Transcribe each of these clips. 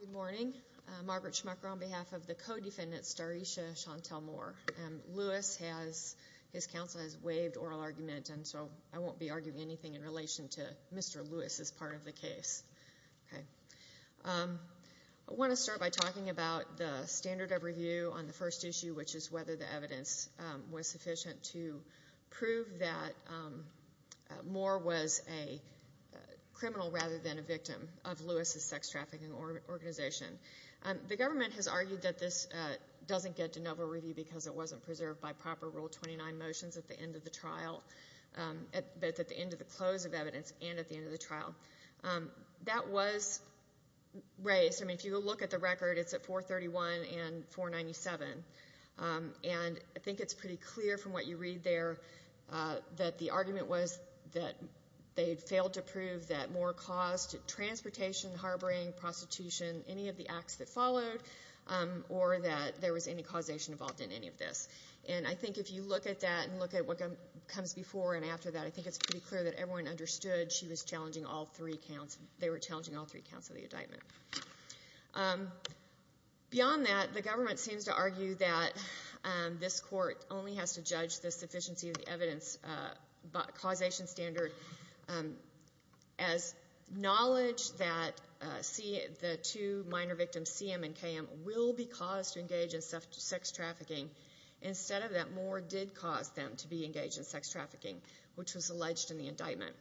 Good morning. Margaret Schmucker on behalf of the co-defendant Starisha Chantel Moore. Lewis has, his counsel has waived oral argument and so I won't be arguing anything in relation to Mr. Lewis as part of the case. Okay. I want to start by talking about the standard of review on the first issue, which is whether the evidence was sufficient to prove that Moore was a criminal rather than a victim of Lewis's sex trafficking organization. The government has argued that this doesn't get de novo review because it wasn't preserved by proper Rule 29 motions at the end of the trial, at the end of the close of evidence and at the end of the trial. That was raised. I mean, if you look at the record, it's at 431 and 497. And I think it's pretty clear from what you read there that the argument was that they had failed to prove that Moore caused transportation, harboring, prostitution, any of the acts that followed, or that there was any causation involved in any of this. And I think if you look at that and look at what comes before and after that, I think it's pretty clear that everyone understood she was challenging all three counts, they were challenging all three counts of the indictment. Beyond that, the government seems to argue that this court only has to judge the sufficiency of the evidence causation standard as knowledge that the two minor victims, CM and KM, will be caused to engage in sex trafficking. Instead of that, Moore did cause them to be engaged in sex trafficking, which was alleged in the indictment.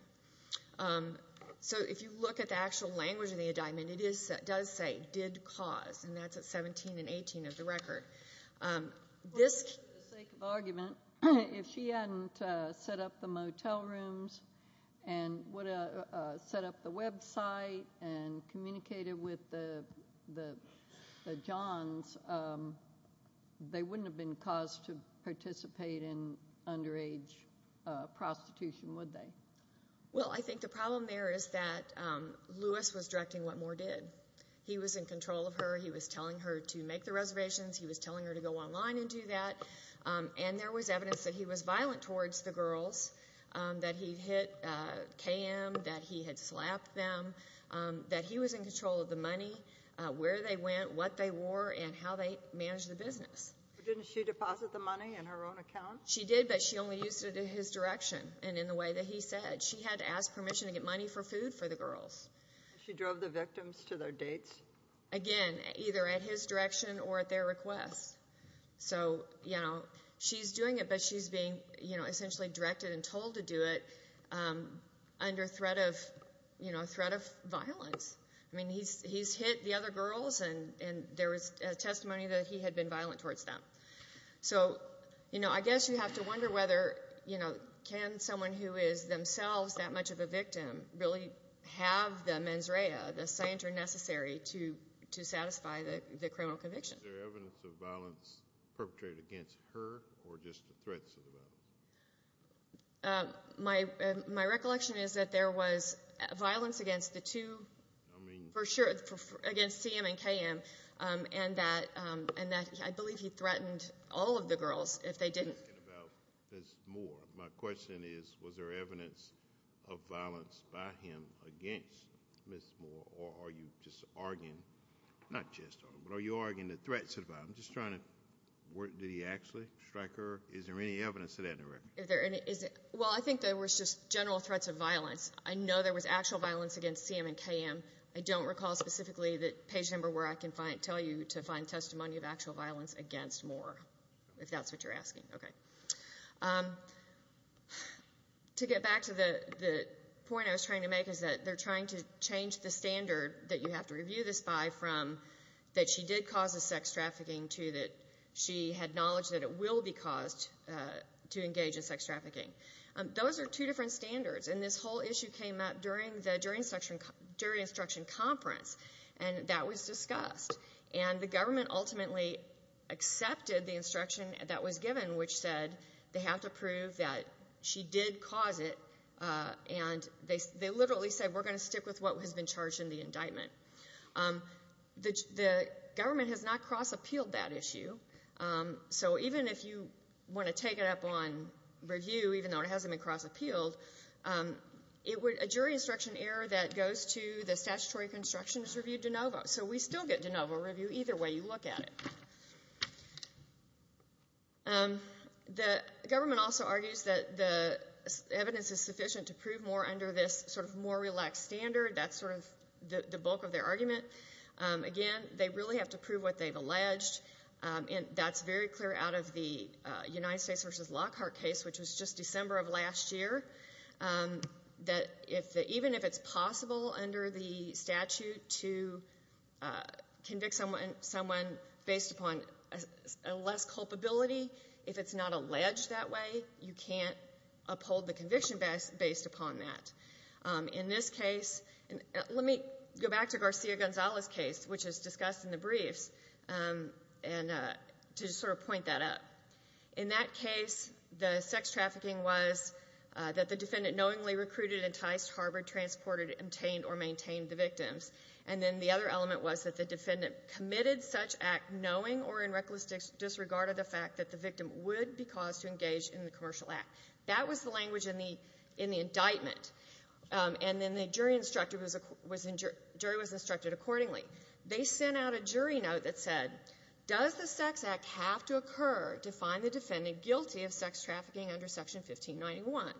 So if you look at the actual language of the indictment, it does say, did cause, and that's at 17 and 18 of the record. For the sake of argument, if she hadn't set up the motel rooms and set up the website and communicated with the Johns, they wouldn't have been caused to participate in underage prostitution, would they? Well, I think the problem there is that Lewis was directing what Moore did. He was in control of her. He was telling her to make the reservations. He was telling her to go online and do that. And there was evidence that he was violent towards the girls, that he hit KM, that he had slapped them, that he was in control of the money, where they went, what they wore, and how they managed the business. But didn't she deposit the money in her own account? She did, but she only used it in his direction and in the way that he said. She had to ask permission to get money for food for the girls. She drove the victims to their dates? Again, either at his direction or at their request. So, you know, she's doing it, but she's being, you know, essentially directed and told to do it under threat of, you know, threat of violence. I mean, he's hit the other girls and there was testimony that he had been violent towards them. So, you know, I guess you have to wonder whether, you know, can someone who is themselves that much of a victim really have the mens rea, the scienter necessary to satisfy the criminal conviction? Is there evidence of violence perpetrated against her or just the threats of the violence? My recollection is that there was violence against the two, for sure against CM and KM, and that, and that I believe he threatened all of the girls if they didn't. About Ms. Moore, my question is, was there evidence of violence by him against Ms. Moore or are you just arguing, not just arguing, but are you arguing the threats of violence? I'm just trying to work, did he actually strike her? Is there any evidence of that in the record? Is there any, is it, well, I think there was just general threats of violence. I know there was actual violence against CM and KM. I don't recall specifically the page number where I can tell you to find testimony of actual violence against Moore, if that's what you're asking. To get back to the point I was trying to make is that they're trying to change the standard that you have to review this by from that she did cause the sex trafficking to that she had knowledge that it will be caused to engage in sex trafficking. Those are two different standards, and this whole issue came up during the jury instruction conference, and that was discussed, and the government ultimately accepted the instruction that was given, which said they have to prove that she did cause it, and they literally said we're going to stick with what has been charged in the indictment. The government has not cross-appealed that It would, a jury instruction error that goes to the statutory construction is reviewed de novo, so we still get de novo review either way you look at it. The government also argues that the evidence is sufficient to prove Moore under this sort of more relaxed standard. That's sort of the bulk of their argument. Again, they really have to prove what they've alleged, and that's very clear out of the United States v. Lockhart case, which was just December of last year, that even if it's possible under the statute to convict someone based upon less culpability, if it's not alleged that way, you can't uphold the conviction based upon that. In this case, let me go back to Garcia-Gonzalez case, which was that the defendant knowingly recruited, enticed, harbored, transported, obtained, or maintained the victims. And then the other element was that the defendant committed such act knowing or in reckless disregard of the fact that the victim would be caused to engage in the commercial act. That was the language in the indictment. And then the jury was instructed accordingly. They sent out a jury note that said, does the Sex Act have to occur to find the defendant guilty of sex trafficking under Section 1591?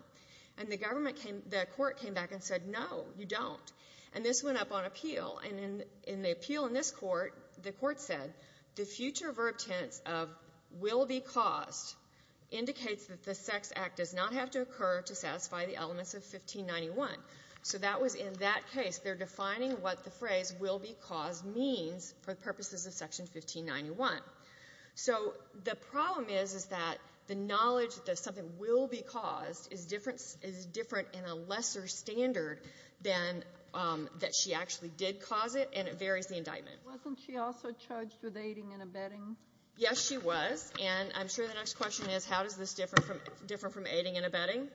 And the government came — the court came back and said, no, you don't. And this went up on appeal. And in the appeal in this court, the court said, the future verb tense of will be caused indicates that the Sex Act does not have to occur to satisfy the elements of 1591. So that was in that case. They're defining what the phrase will be caused means for the purposes of Section 1591. So the problem is, is that the knowledge that something will be caused is different in a lesser standard than that she actually did cause it, and it varies the indictment. Wasn't she also charged with aiding and abetting? Yes, she was. And I'm sure the next question is, how does this differ from aiding and abetting?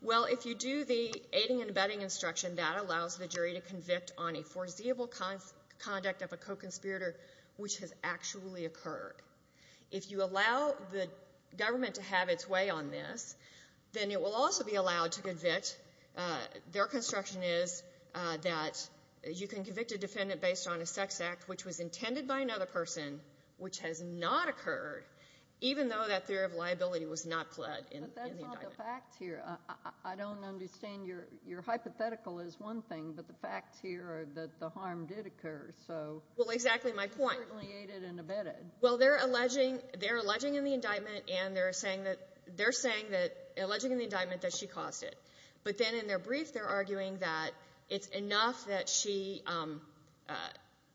Well, if you do the aiding and abetting instruction, that allows the jury to convict on a foreseeable conduct of a co-conspirator which has actually occurred. If you allow the government to have its way on this, then it will also be allowed to convict. Their construction is that you can convict a defendant based on a sex act which was intended by another person, which has not occurred, even though that theory of liability was not pled in the indictment. But that's not the fact here. I don't understand. Your hypothetical is one thing, but the facts here are that the harm did occur, so you certainly aided and abetted. Well, exactly my point. Well, they're alleging in the indictment and they're saying that they're saying that, alleging in the indictment that she caused it. But then in their brief, they're arguing that it's enough that she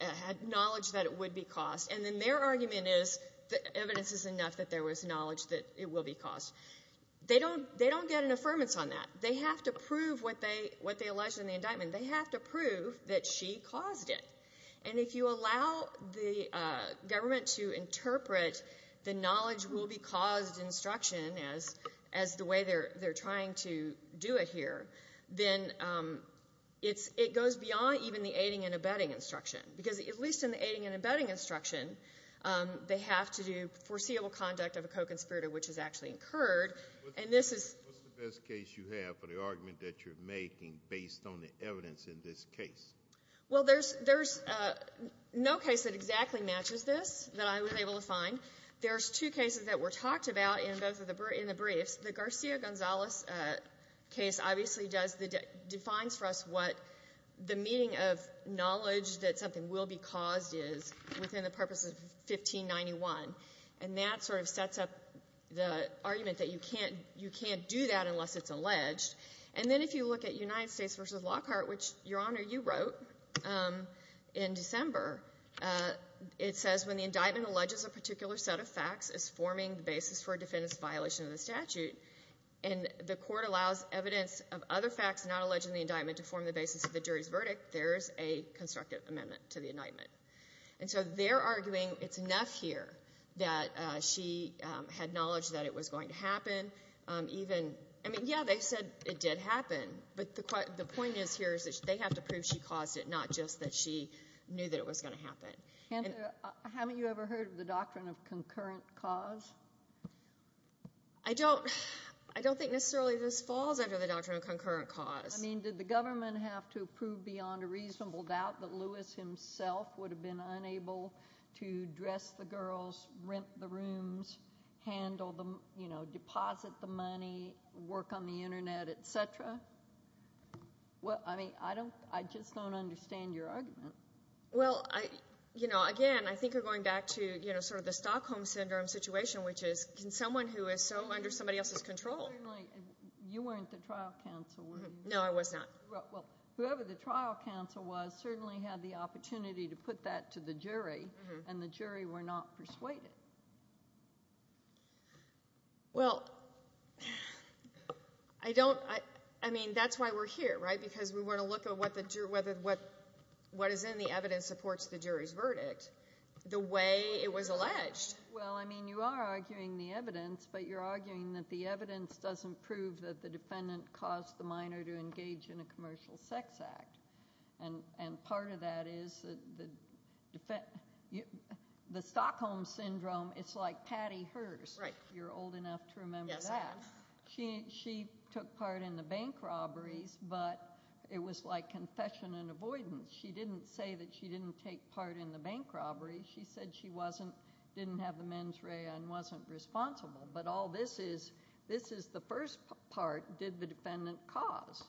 had knowledge that it would be caused, and then their argument is that evidence is enough that there was knowledge that it will be caused. They don't get an affirmance on that. They have to prove what they allege in the indictment. They have to prove that she caused it. And if you allow the government to interpret the knowledge will be caused instruction as the way they're trying to do it here, then it goes beyond even the aiding and abetting instruction. Because at least in the aiding and abetting instruction, they have to do foreseeable conduct of a co-conspirator, which is actually incurred. And this is — What's the best case you have for the argument that you're making based on the evidence in this case? Well, there's no case that exactly matches this that I was able to find. There's two cases that were talked about in both of the — in the briefs. The Garcia-Gonzalez case obviously does the — defines for us what the meaning of knowledge that something will be caused is within the purpose of 1591. And that sort of sets up the argument that you can't — you can't do that unless it's alleged. And then if you look at United States v. Lockhart, which, Your Honor, you wrote in December, it says when the indictment alleges a particular set of facts as forming the basis for a defendant's violation of the statute, and the court allows evidence of other facts not alleged in the indictment to form the basis of the jury's verdict, there's a constructive amendment to the indictment. And so they're arguing it's enough here that she had knowledge that it was going to happen, even — I mean, yeah, they said it did happen. But the point is here is that they have to prove she caused it, not just that she knew that it was going to happen. And haven't you ever heard of the doctrine of concurrent cause? I don't — I don't think necessarily this falls under the doctrine of concurrent cause. I mean, did the government have to prove beyond a reasonable doubt that Lewis himself would have been unable to dress the girls, rent the rooms, handle the — you know, deposit the money, work on the Internet, et cetera? Well, I mean, I don't — I just don't understand your argument. Well, I — you know, again, I think you're going back to, you know, sort of the someone who is so under somebody else's control. Certainly, you weren't the trial counsel, were you? No, I was not. Well, whoever the trial counsel was certainly had the opportunity to put that to the jury, and the jury were not persuaded. Well, I don't — I mean, that's why we're here, right? Because we want to look at what the — whether what is in the evidence supports the jury's verdict the way it was alleged. Well, I mean, you are arguing the evidence, but you're arguing that the evidence doesn't prove that the defendant caused the minor to engage in a commercial sex act. And part of that is that the — the Stockholm Syndrome is like Patty Hearst. Right. You're old enough to remember that. Yes, I am. She took part in the bank robberies, but it was like confession and avoidance. She didn't say that she didn't take part in the bank robberies. She said she wasn't — didn't have the mens rea and wasn't responsible. But all this is, this is the first part, did the defendant cause.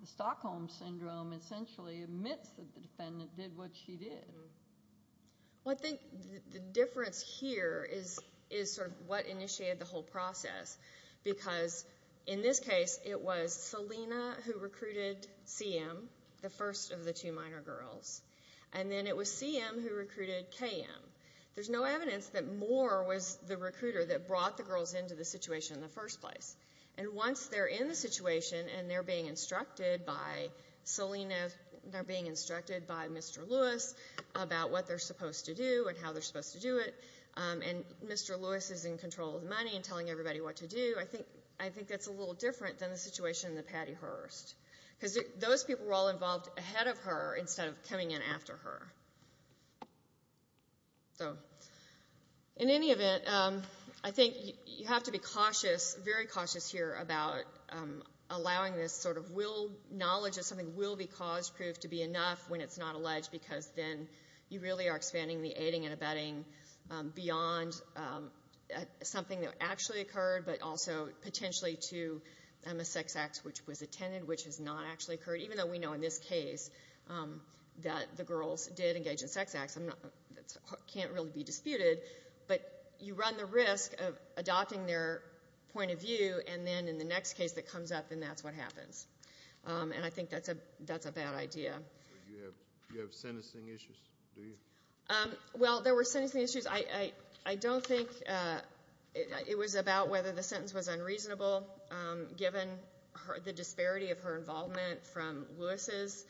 The Stockholm Syndrome essentially admits that the defendant did what she did. Well, I think the difference here is sort of what initiated the whole process, because in this case, it was Selena who recruited CM, the first of the two minor girls. And then it was CM who recruited KM. There's no evidence that Moore was the recruiter that brought the girls into the situation in the first place. And once they're in the situation and they're being instructed by Selena, they're being instructed by Mr. Lewis about what they're supposed to do and how they're supposed to do it, and Mr. Lewis is in control of the money and telling everybody what to do, I think that's a little different than the situation in the Patty Hearst. Because those people were all involved ahead of her instead of coming in after her. So, in any event, I think you have to be cautious, very cautious here about allowing this sort of will — knowledge that something will be cause proof to be enough when it's not alleged, because then you really are expanding the aiding and abetting beyond something that actually occurred, but also potentially to a sex act which was attended, which has not actually occurred, even though we know in this case that the girls did engage in sex acts. That can't really be disputed, but you run the risk of adopting their point of view, and then in the next case that comes up, then that's what happens. And I think that's a bad idea. So you have sentencing issues, do you? Well, there were sentencing issues. I don't think it was about whether the sentence was unreasonable, given the disparity of her involvement from Lewis's,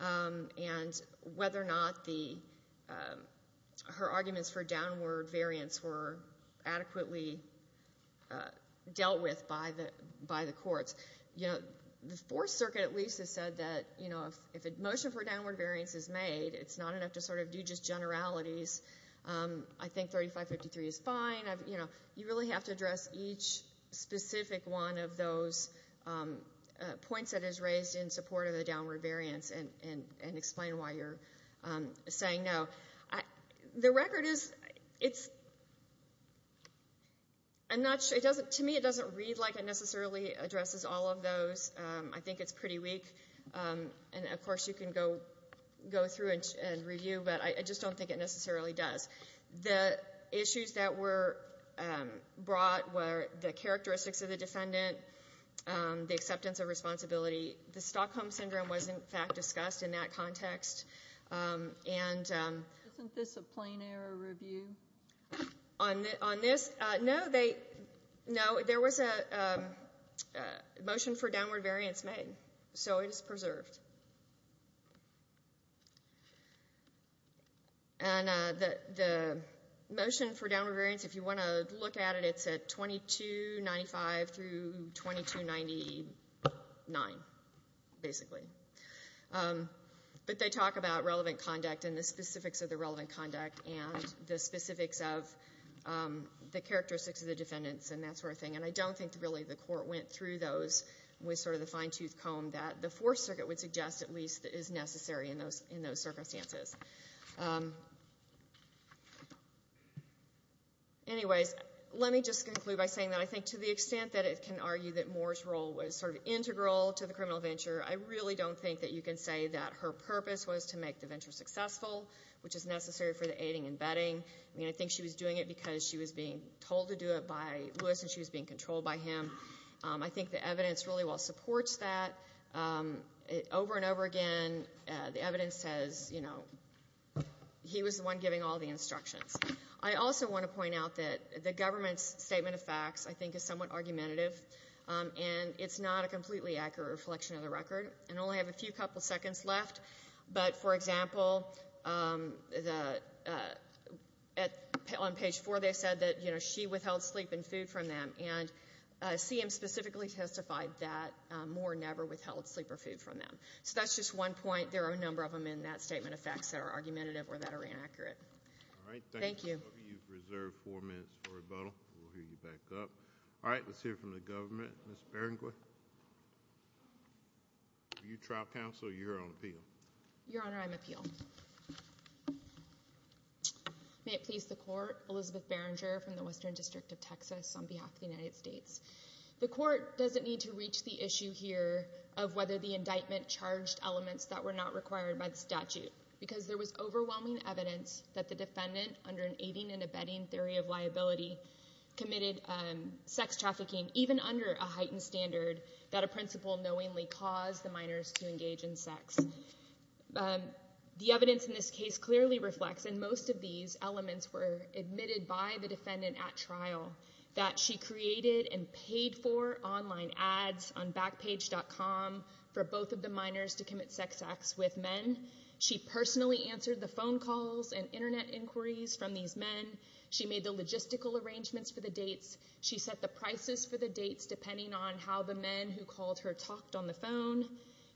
and whether or not her arguments for downward variance were adequately dealt with by the courts. The Fourth Circuit at least has said that if a motion for downward variance is made, it's not enough to sort of do just generalities. I think 3553 is fine. You really have to address each specific one of those points that is raised in support of the downward variance and explain why you're saying no. The record is — to me it doesn't read like it necessarily addresses all of those. I think it's pretty weak. And, of course, you can go through and review, but I just don't think it necessarily does. The issues that were brought were the characteristics of the defendant, the acceptance of responsibility. The Stockholm Syndrome was, in fact, discussed in that context. Isn't this a plain error review? On this, no, there was a motion for downward variance made. So it is preserved. And the motion for downward variance, if you want to look at it, it's at 2295 through 2299, basically. But they talk about relevant conduct and the specifics of the relevant conduct and the specifics of the characteristics of the defendants and that sort of thing. And I don't think really the court went through those with sort of the fine-toothed comb that the Fourth Circuit would suggest at least is necessary in those circumstances. Anyways, let me just conclude by saying that I think to the extent that it can argue that Moore's role was sort of integral to the criminal venture, I really don't think that you can say that her purpose was to make the venture successful, which is necessary for the aiding and abetting. I mean, I think she was doing it because she was being told to do it by Lewis and she was being controlled by him. I think the evidence really well supports that. Over and over again, the evidence says, you know, he was the one giving all the instructions. I also want to point out that the government's statement of facts, I think, is somewhat argumentative, and it's not a completely accurate reflection of the record. I only have a few couple seconds left. But, for example, on page 4, they said that, you know, she withheld sleep and food from them, and CM specifically testified that Moore never withheld sleep or food from them. So that's just one point. There are a number of them in that statement of facts that are argumentative or that are inaccurate. Thank you. All right. Thank you. You've reserved four minutes for rebuttal. We'll hear you back up. All right. Let's hear from the government. Ms. Berenguer, are you trial counsel or are you here on appeal? Your Honor, I'm appeal. May it please the Court, Elizabeth Berenguer from the Western District of Texas on behalf of the United States. The Court doesn't need to reach the issue here of whether the indictment charged elements that were not required by the statute because there was overwhelming evidence that the defendant under an aiding and abetting theory of liability committed sex trafficking even under a heightened standard that a principal knowingly caused the minors to engage in sex. The evidence in this case clearly reflects, and most of these elements were admitted by the defendant at trial, that she created and paid for online ads on Backpage.com for both of the minors to commit sex acts with men. She personally answered the phone calls and internet inquiries from these men. She made the logistical arrangements for the dates. She set the prices for the dates depending on how the men who called her talked on the phone.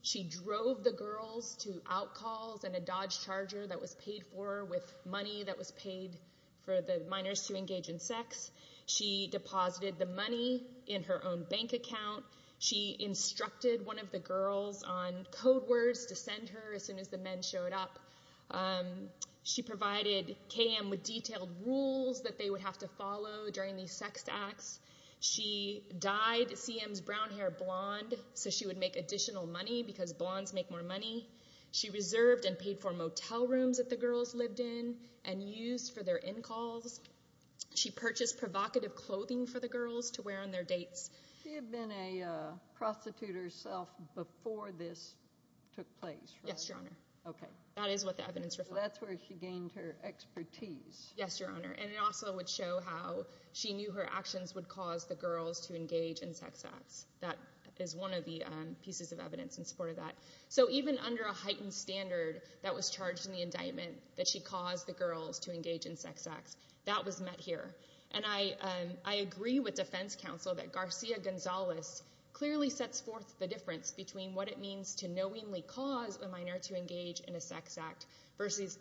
She drove the girls to outcalls and a Dodge Charger that was paid for with money that was paid for the minors to engage in sex. She deposited the money in her own bank account. She instructed one of the girls on code words to send her as soon as the men showed up. She provided KM with detailed rules that they would have to follow during these sex acts. She dyed CM's brown hair blonde so she would make additional money because blondes make more money. She reserved and paid for motel rooms that the girls lived in and used for their in-calls. She purchased provocative clothing for the girls to wear on their dates. She had been a prostitute herself before this took place, right? Yes, Your Honor. Okay. That is what the evidence reflects. So that's where she gained her expertise. Yes, Your Honor. And it also would show how she knew her actions would cause the girls to engage in sex acts. That is one of the pieces of evidence in support of that. So even under a heightened standard that was charged in the indictment that she caused the girls to engage in sex acts, that was met here. And I agree with defense counsel that Garcia-Gonzalez clearly sets forth the difference between what it means to knowingly cause a minor to engage in a sex act versus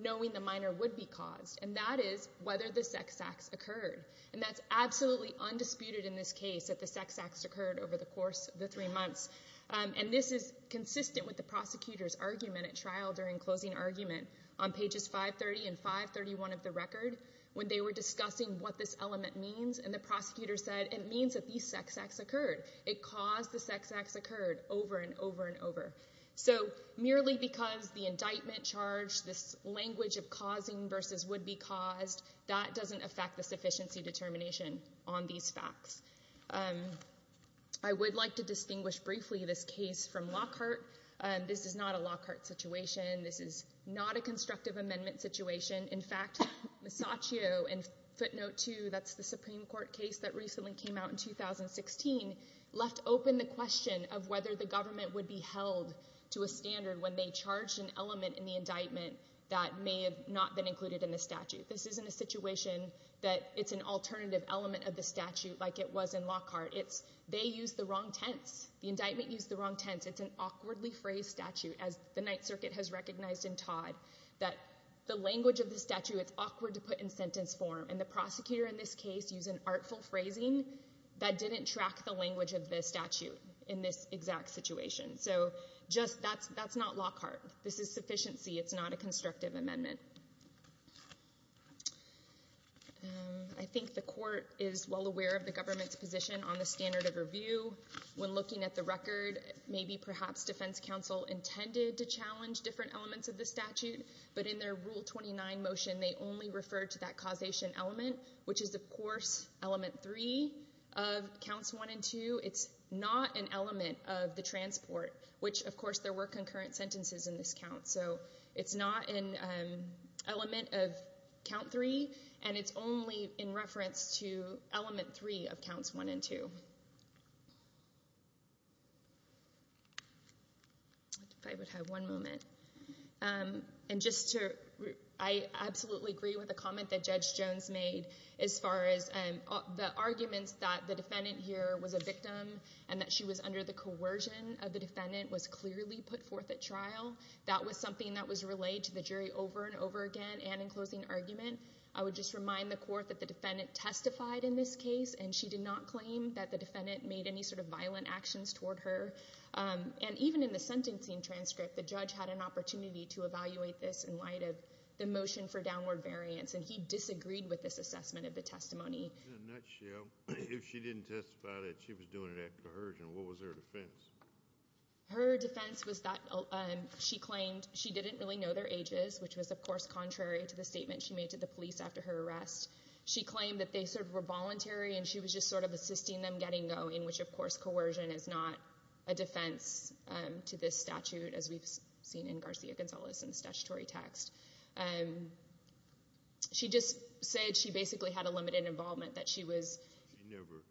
knowing the minor would be caused. And that is whether the sex acts occurred. And that's absolutely undisputed in this case that the sex acts occurred over the course of the three months. And this is consistent with the prosecutor's argument at trial during closing argument on pages 530 and 531 of the record when they were discussing what this element means. And the prosecutor said it means that these sex acts occurred. It caused the sex acts occurred over and over and over. So merely because the indictment charged this language of causing versus would be caused, that doesn't affect the sufficiency determination on these facts. I would like to distinguish briefly this case from Lockhart. This is not a Lockhart situation. This is not a constructive amendment situation. In fact, Masaccio in footnote 2, that's the Supreme Court case that recently came out in 2016, left open the question of whether the government would be held to a standard when they charged an element in the indictment that may have not been included in the statute. This isn't a situation that it's an alternative element of the statute like it was in Lockhart. They used the wrong tense. The indictment used the wrong tense. It's an awkwardly phrased statute, as the Ninth Circuit has recognized in Todd, that the language of the statute is awkward to put in sentence form. And the prosecutor in this case used an artful phrasing that didn't track the language of the statute in this exact situation. So just that's not Lockhart. This is sufficiency. It's not a constructive amendment. I think the court is well aware of the government's position on the standard of review. When looking at the record, maybe perhaps defense counsel intended to challenge different elements of the statute, but in their Rule 29 motion, they only referred to that causation element, which is, of course, element 3 of counts 1 and 2. It's not an element of the transport, which, of course, there were concurrent sentences in this count. So it's not an element of count 3, and it's only in reference to element 3 of counts 1 and 2. If I would have one moment. I absolutely agree with the comment that Judge Jones made as far as the arguments that the defendant here was a victim and that she was under the coercion of the defendant was clearly put forth at trial. That was something that was relayed to the jury over and over again and in closing argument. I would just remind the court that the defendant testified in this case, and she did not claim that the defendant made any sort of violent actions toward her. And even in the sentencing transcript, the judge had an opportunity to evaluate this in light of the motion for downward variance, and he disagreed with this assessment of the testimony. In a nutshell, if she didn't testify that she was doing it at coercion, what was her defense? Her defense was that she claimed she didn't really know their ages, which was, of course, contrary to the statement she made to the police after her arrest. She claimed that they sort of were voluntary, and she was just sort of assisting them getting going, which, of course, coercion is not a defense to this statute, as we've seen in Garcia-Gonzalez's statutory text. She just said she basically had a limited involvement, that she was— She never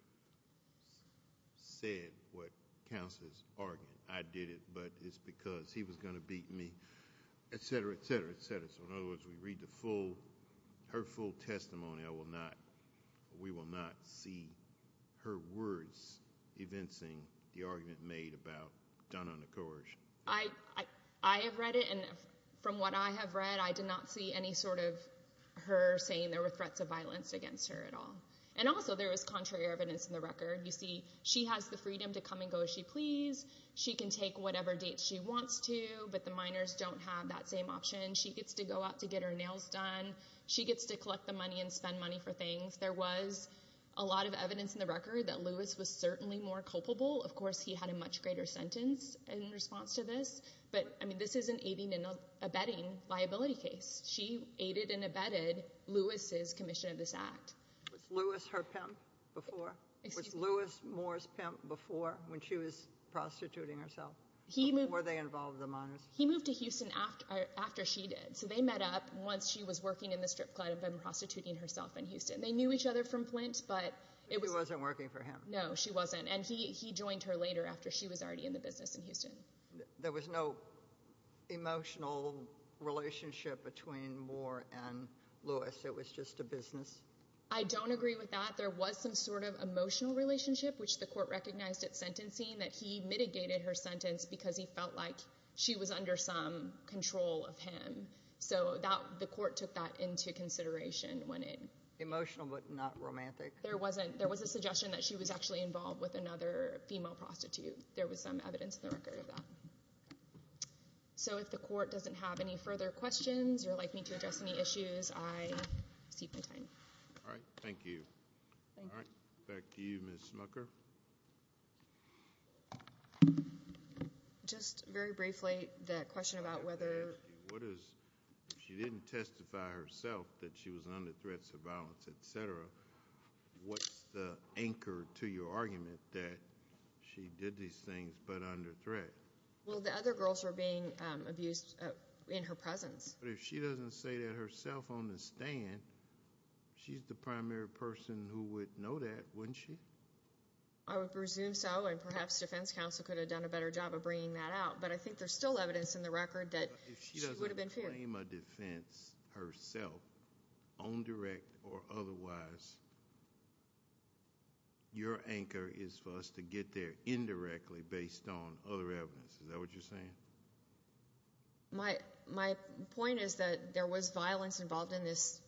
said what counts as argument. I did it, but it's because he was going to beat me, et cetera, et cetera, et cetera. So in other words, we read her full testimony. We will not see her words evincing the argument made about Donna under coercion. I have read it, and from what I have read, I did not see any sort of her saying there were threats of violence against her at all. And also, there was contrary evidence in the record. You see, she has the freedom to come and go as she pleases. She can take whatever date she wants to, but the minors don't have that same option. She gets to go out to get her nails done. She gets to collect the money and spend money for things. There was a lot of evidence in the record that Lewis was certainly more culpable. Of course, he had a much greater sentence in response to this. But, I mean, this is an aiding and abetting liability case. She aided and abetted Lewis's commission of this act. Was Lewis her pimp before? Was Lewis Moore's pimp before when she was prostituting herself? Before they involved the minors? He moved to Houston after she did. So they met up once she was working in the strip club and prostituting herself in Houston. They knew each other from Flint, but it was— She wasn't working for him. No, she wasn't. And he joined her later after she was already in the business in Houston. There was no emotional relationship between Moore and Lewis. It was just a business. I don't agree with that. There was some sort of emotional relationship, which the court recognized at sentencing, that he mitigated her sentence because he felt like she was under some control of him. So the court took that into consideration when it— Emotional but not romantic. There was a suggestion that she was actually involved with another female prostitute. There was some evidence in the record of that. So if the court doesn't have any further questions or would like me to address any issues, I cede my time. All right. Thank you. Thank you. All right. Back to you, Ms. Smucker. Just very briefly, the question about whether— What is—if she didn't testify herself that she was under threats of violence, et cetera, what's the anchor to your argument that she did these things but under threat? Well, the other girls were being abused in her presence. But if she doesn't say that herself on the stand, she's the primary person who would know that, wouldn't she? I would presume so, and perhaps defense counsel could have done a better job of bringing that out. But I think there's still evidence in the record that she would have been feared. But if she doesn't claim a defense herself, on direct or otherwise, your anchor is for us to get there indirectly based on other evidence. Is that what you're saying? My point is that there was violence involved in this.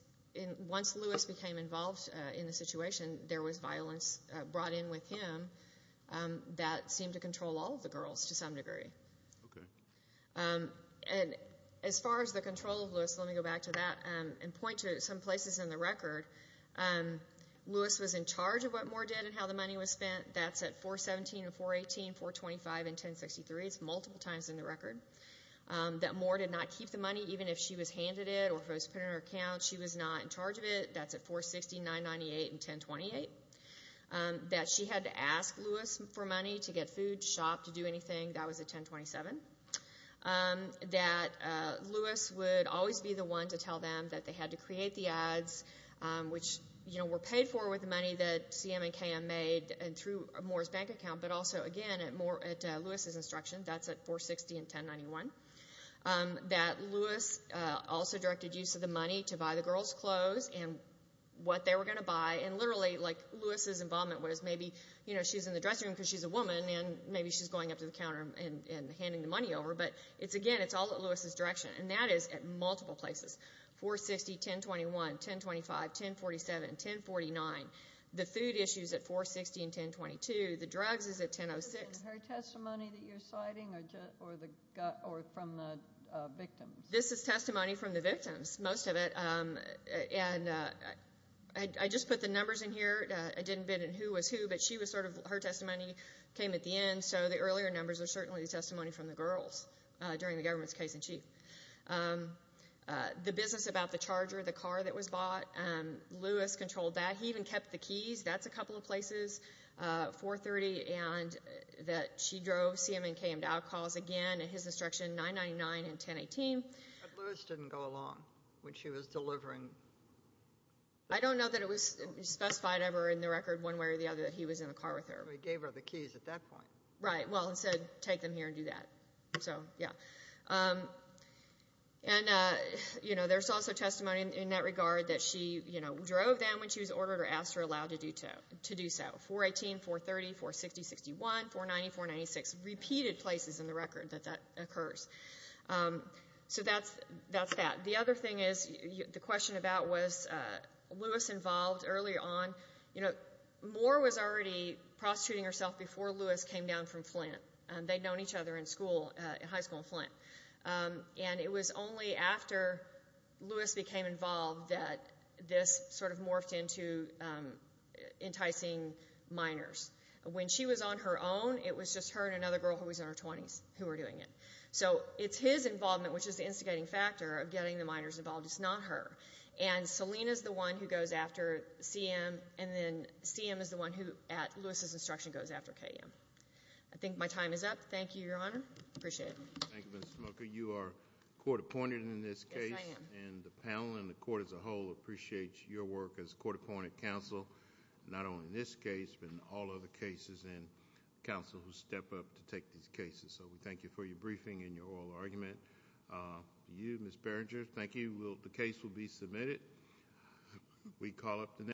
Once Lewis became involved in the situation, there was violence brought in with him that seemed to control all of the girls to some degree. Okay. And as far as the control of Lewis, let me go back to that and point to some places in the record. Lewis was in charge of what Moore did and how the money was spent. That's at 417 and 418, 425 and 1063. It's multiple times in the record. That Moore did not keep the money even if she was handed it or if it was put in her account. She was not in charge of it. That's at 460, 998, and 1028. That she had to ask Lewis for money to get food, shop, to do anything. That was at 1027. That Lewis would always be the one to tell them that they had to create the ads, which were paid for with the money that CM and KM made through Moore's bank account, but also, again, at Lewis's instruction. That's at 460 and 1091. That Lewis also directed use of the money to buy the girls' clothes and what they were going to buy. And literally, like, Lewis's involvement was maybe she's in the dressing room because she's a woman, and maybe she's going up to the counter and handing the money over. But, again, it's all at Lewis's direction. And that is at multiple places. 460, 1021, 1025, 1047, 1049. The food issue is at 460 and 1022. The drugs is at 1006. Is this her testimony that you're citing or from the victims? This is testimony from the victims, most of it. And I just put the numbers in here. I didn't bid on who was who, but she was sort of her testimony came at the end, and so the earlier numbers are certainly the testimony from the girls during the government's case-in-chief. The business about the charger, the car that was bought, Lewis controlled that. He even kept the keys. That's a couple of places, 430 and that she drove CM and KM to outcalls. Again, at his instruction, 999 and 1018. But Lewis didn't go along when she was delivering? I don't know that it was specified ever in the record one way or the other that he was in the car with her. He gave her the keys at that point. Right. Well, instead, take them here and do that. So, yeah. And, you know, there's also testimony in that regard that she, you know, drove them when she was ordered or asked her aloud to do so. 418, 430, 460, 61, 490, 496. Repeated places in the record that that occurs. So that's that. The other thing is the question about was Lewis involved earlier on. You know, Moore was already prostituting herself before Lewis came down from Flint. They'd known each other in school, in high school in Flint. And it was only after Lewis became involved that this sort of morphed into enticing minors. When she was on her own, it was just her and another girl who was in her 20s who were doing it. So it's his involvement, which is the instigating factor of getting the minors involved. It's not her. And Selina is the one who goes after CM, and then CM is the one who, at Lewis's instruction, goes after KM. I think my time is up. Thank you, Your Honor. Appreciate it. Thank you, Ms. Smoker. You are court appointed in this case. Yes, I am. And the panel and the court as a whole appreciates your work as court appointed counsel, not only in this case but in all other cases, and counsel who step up to take these cases. So we thank you for your briefing and your oral argument. For you, Ms. Berenger, thank you. The case will be submitted.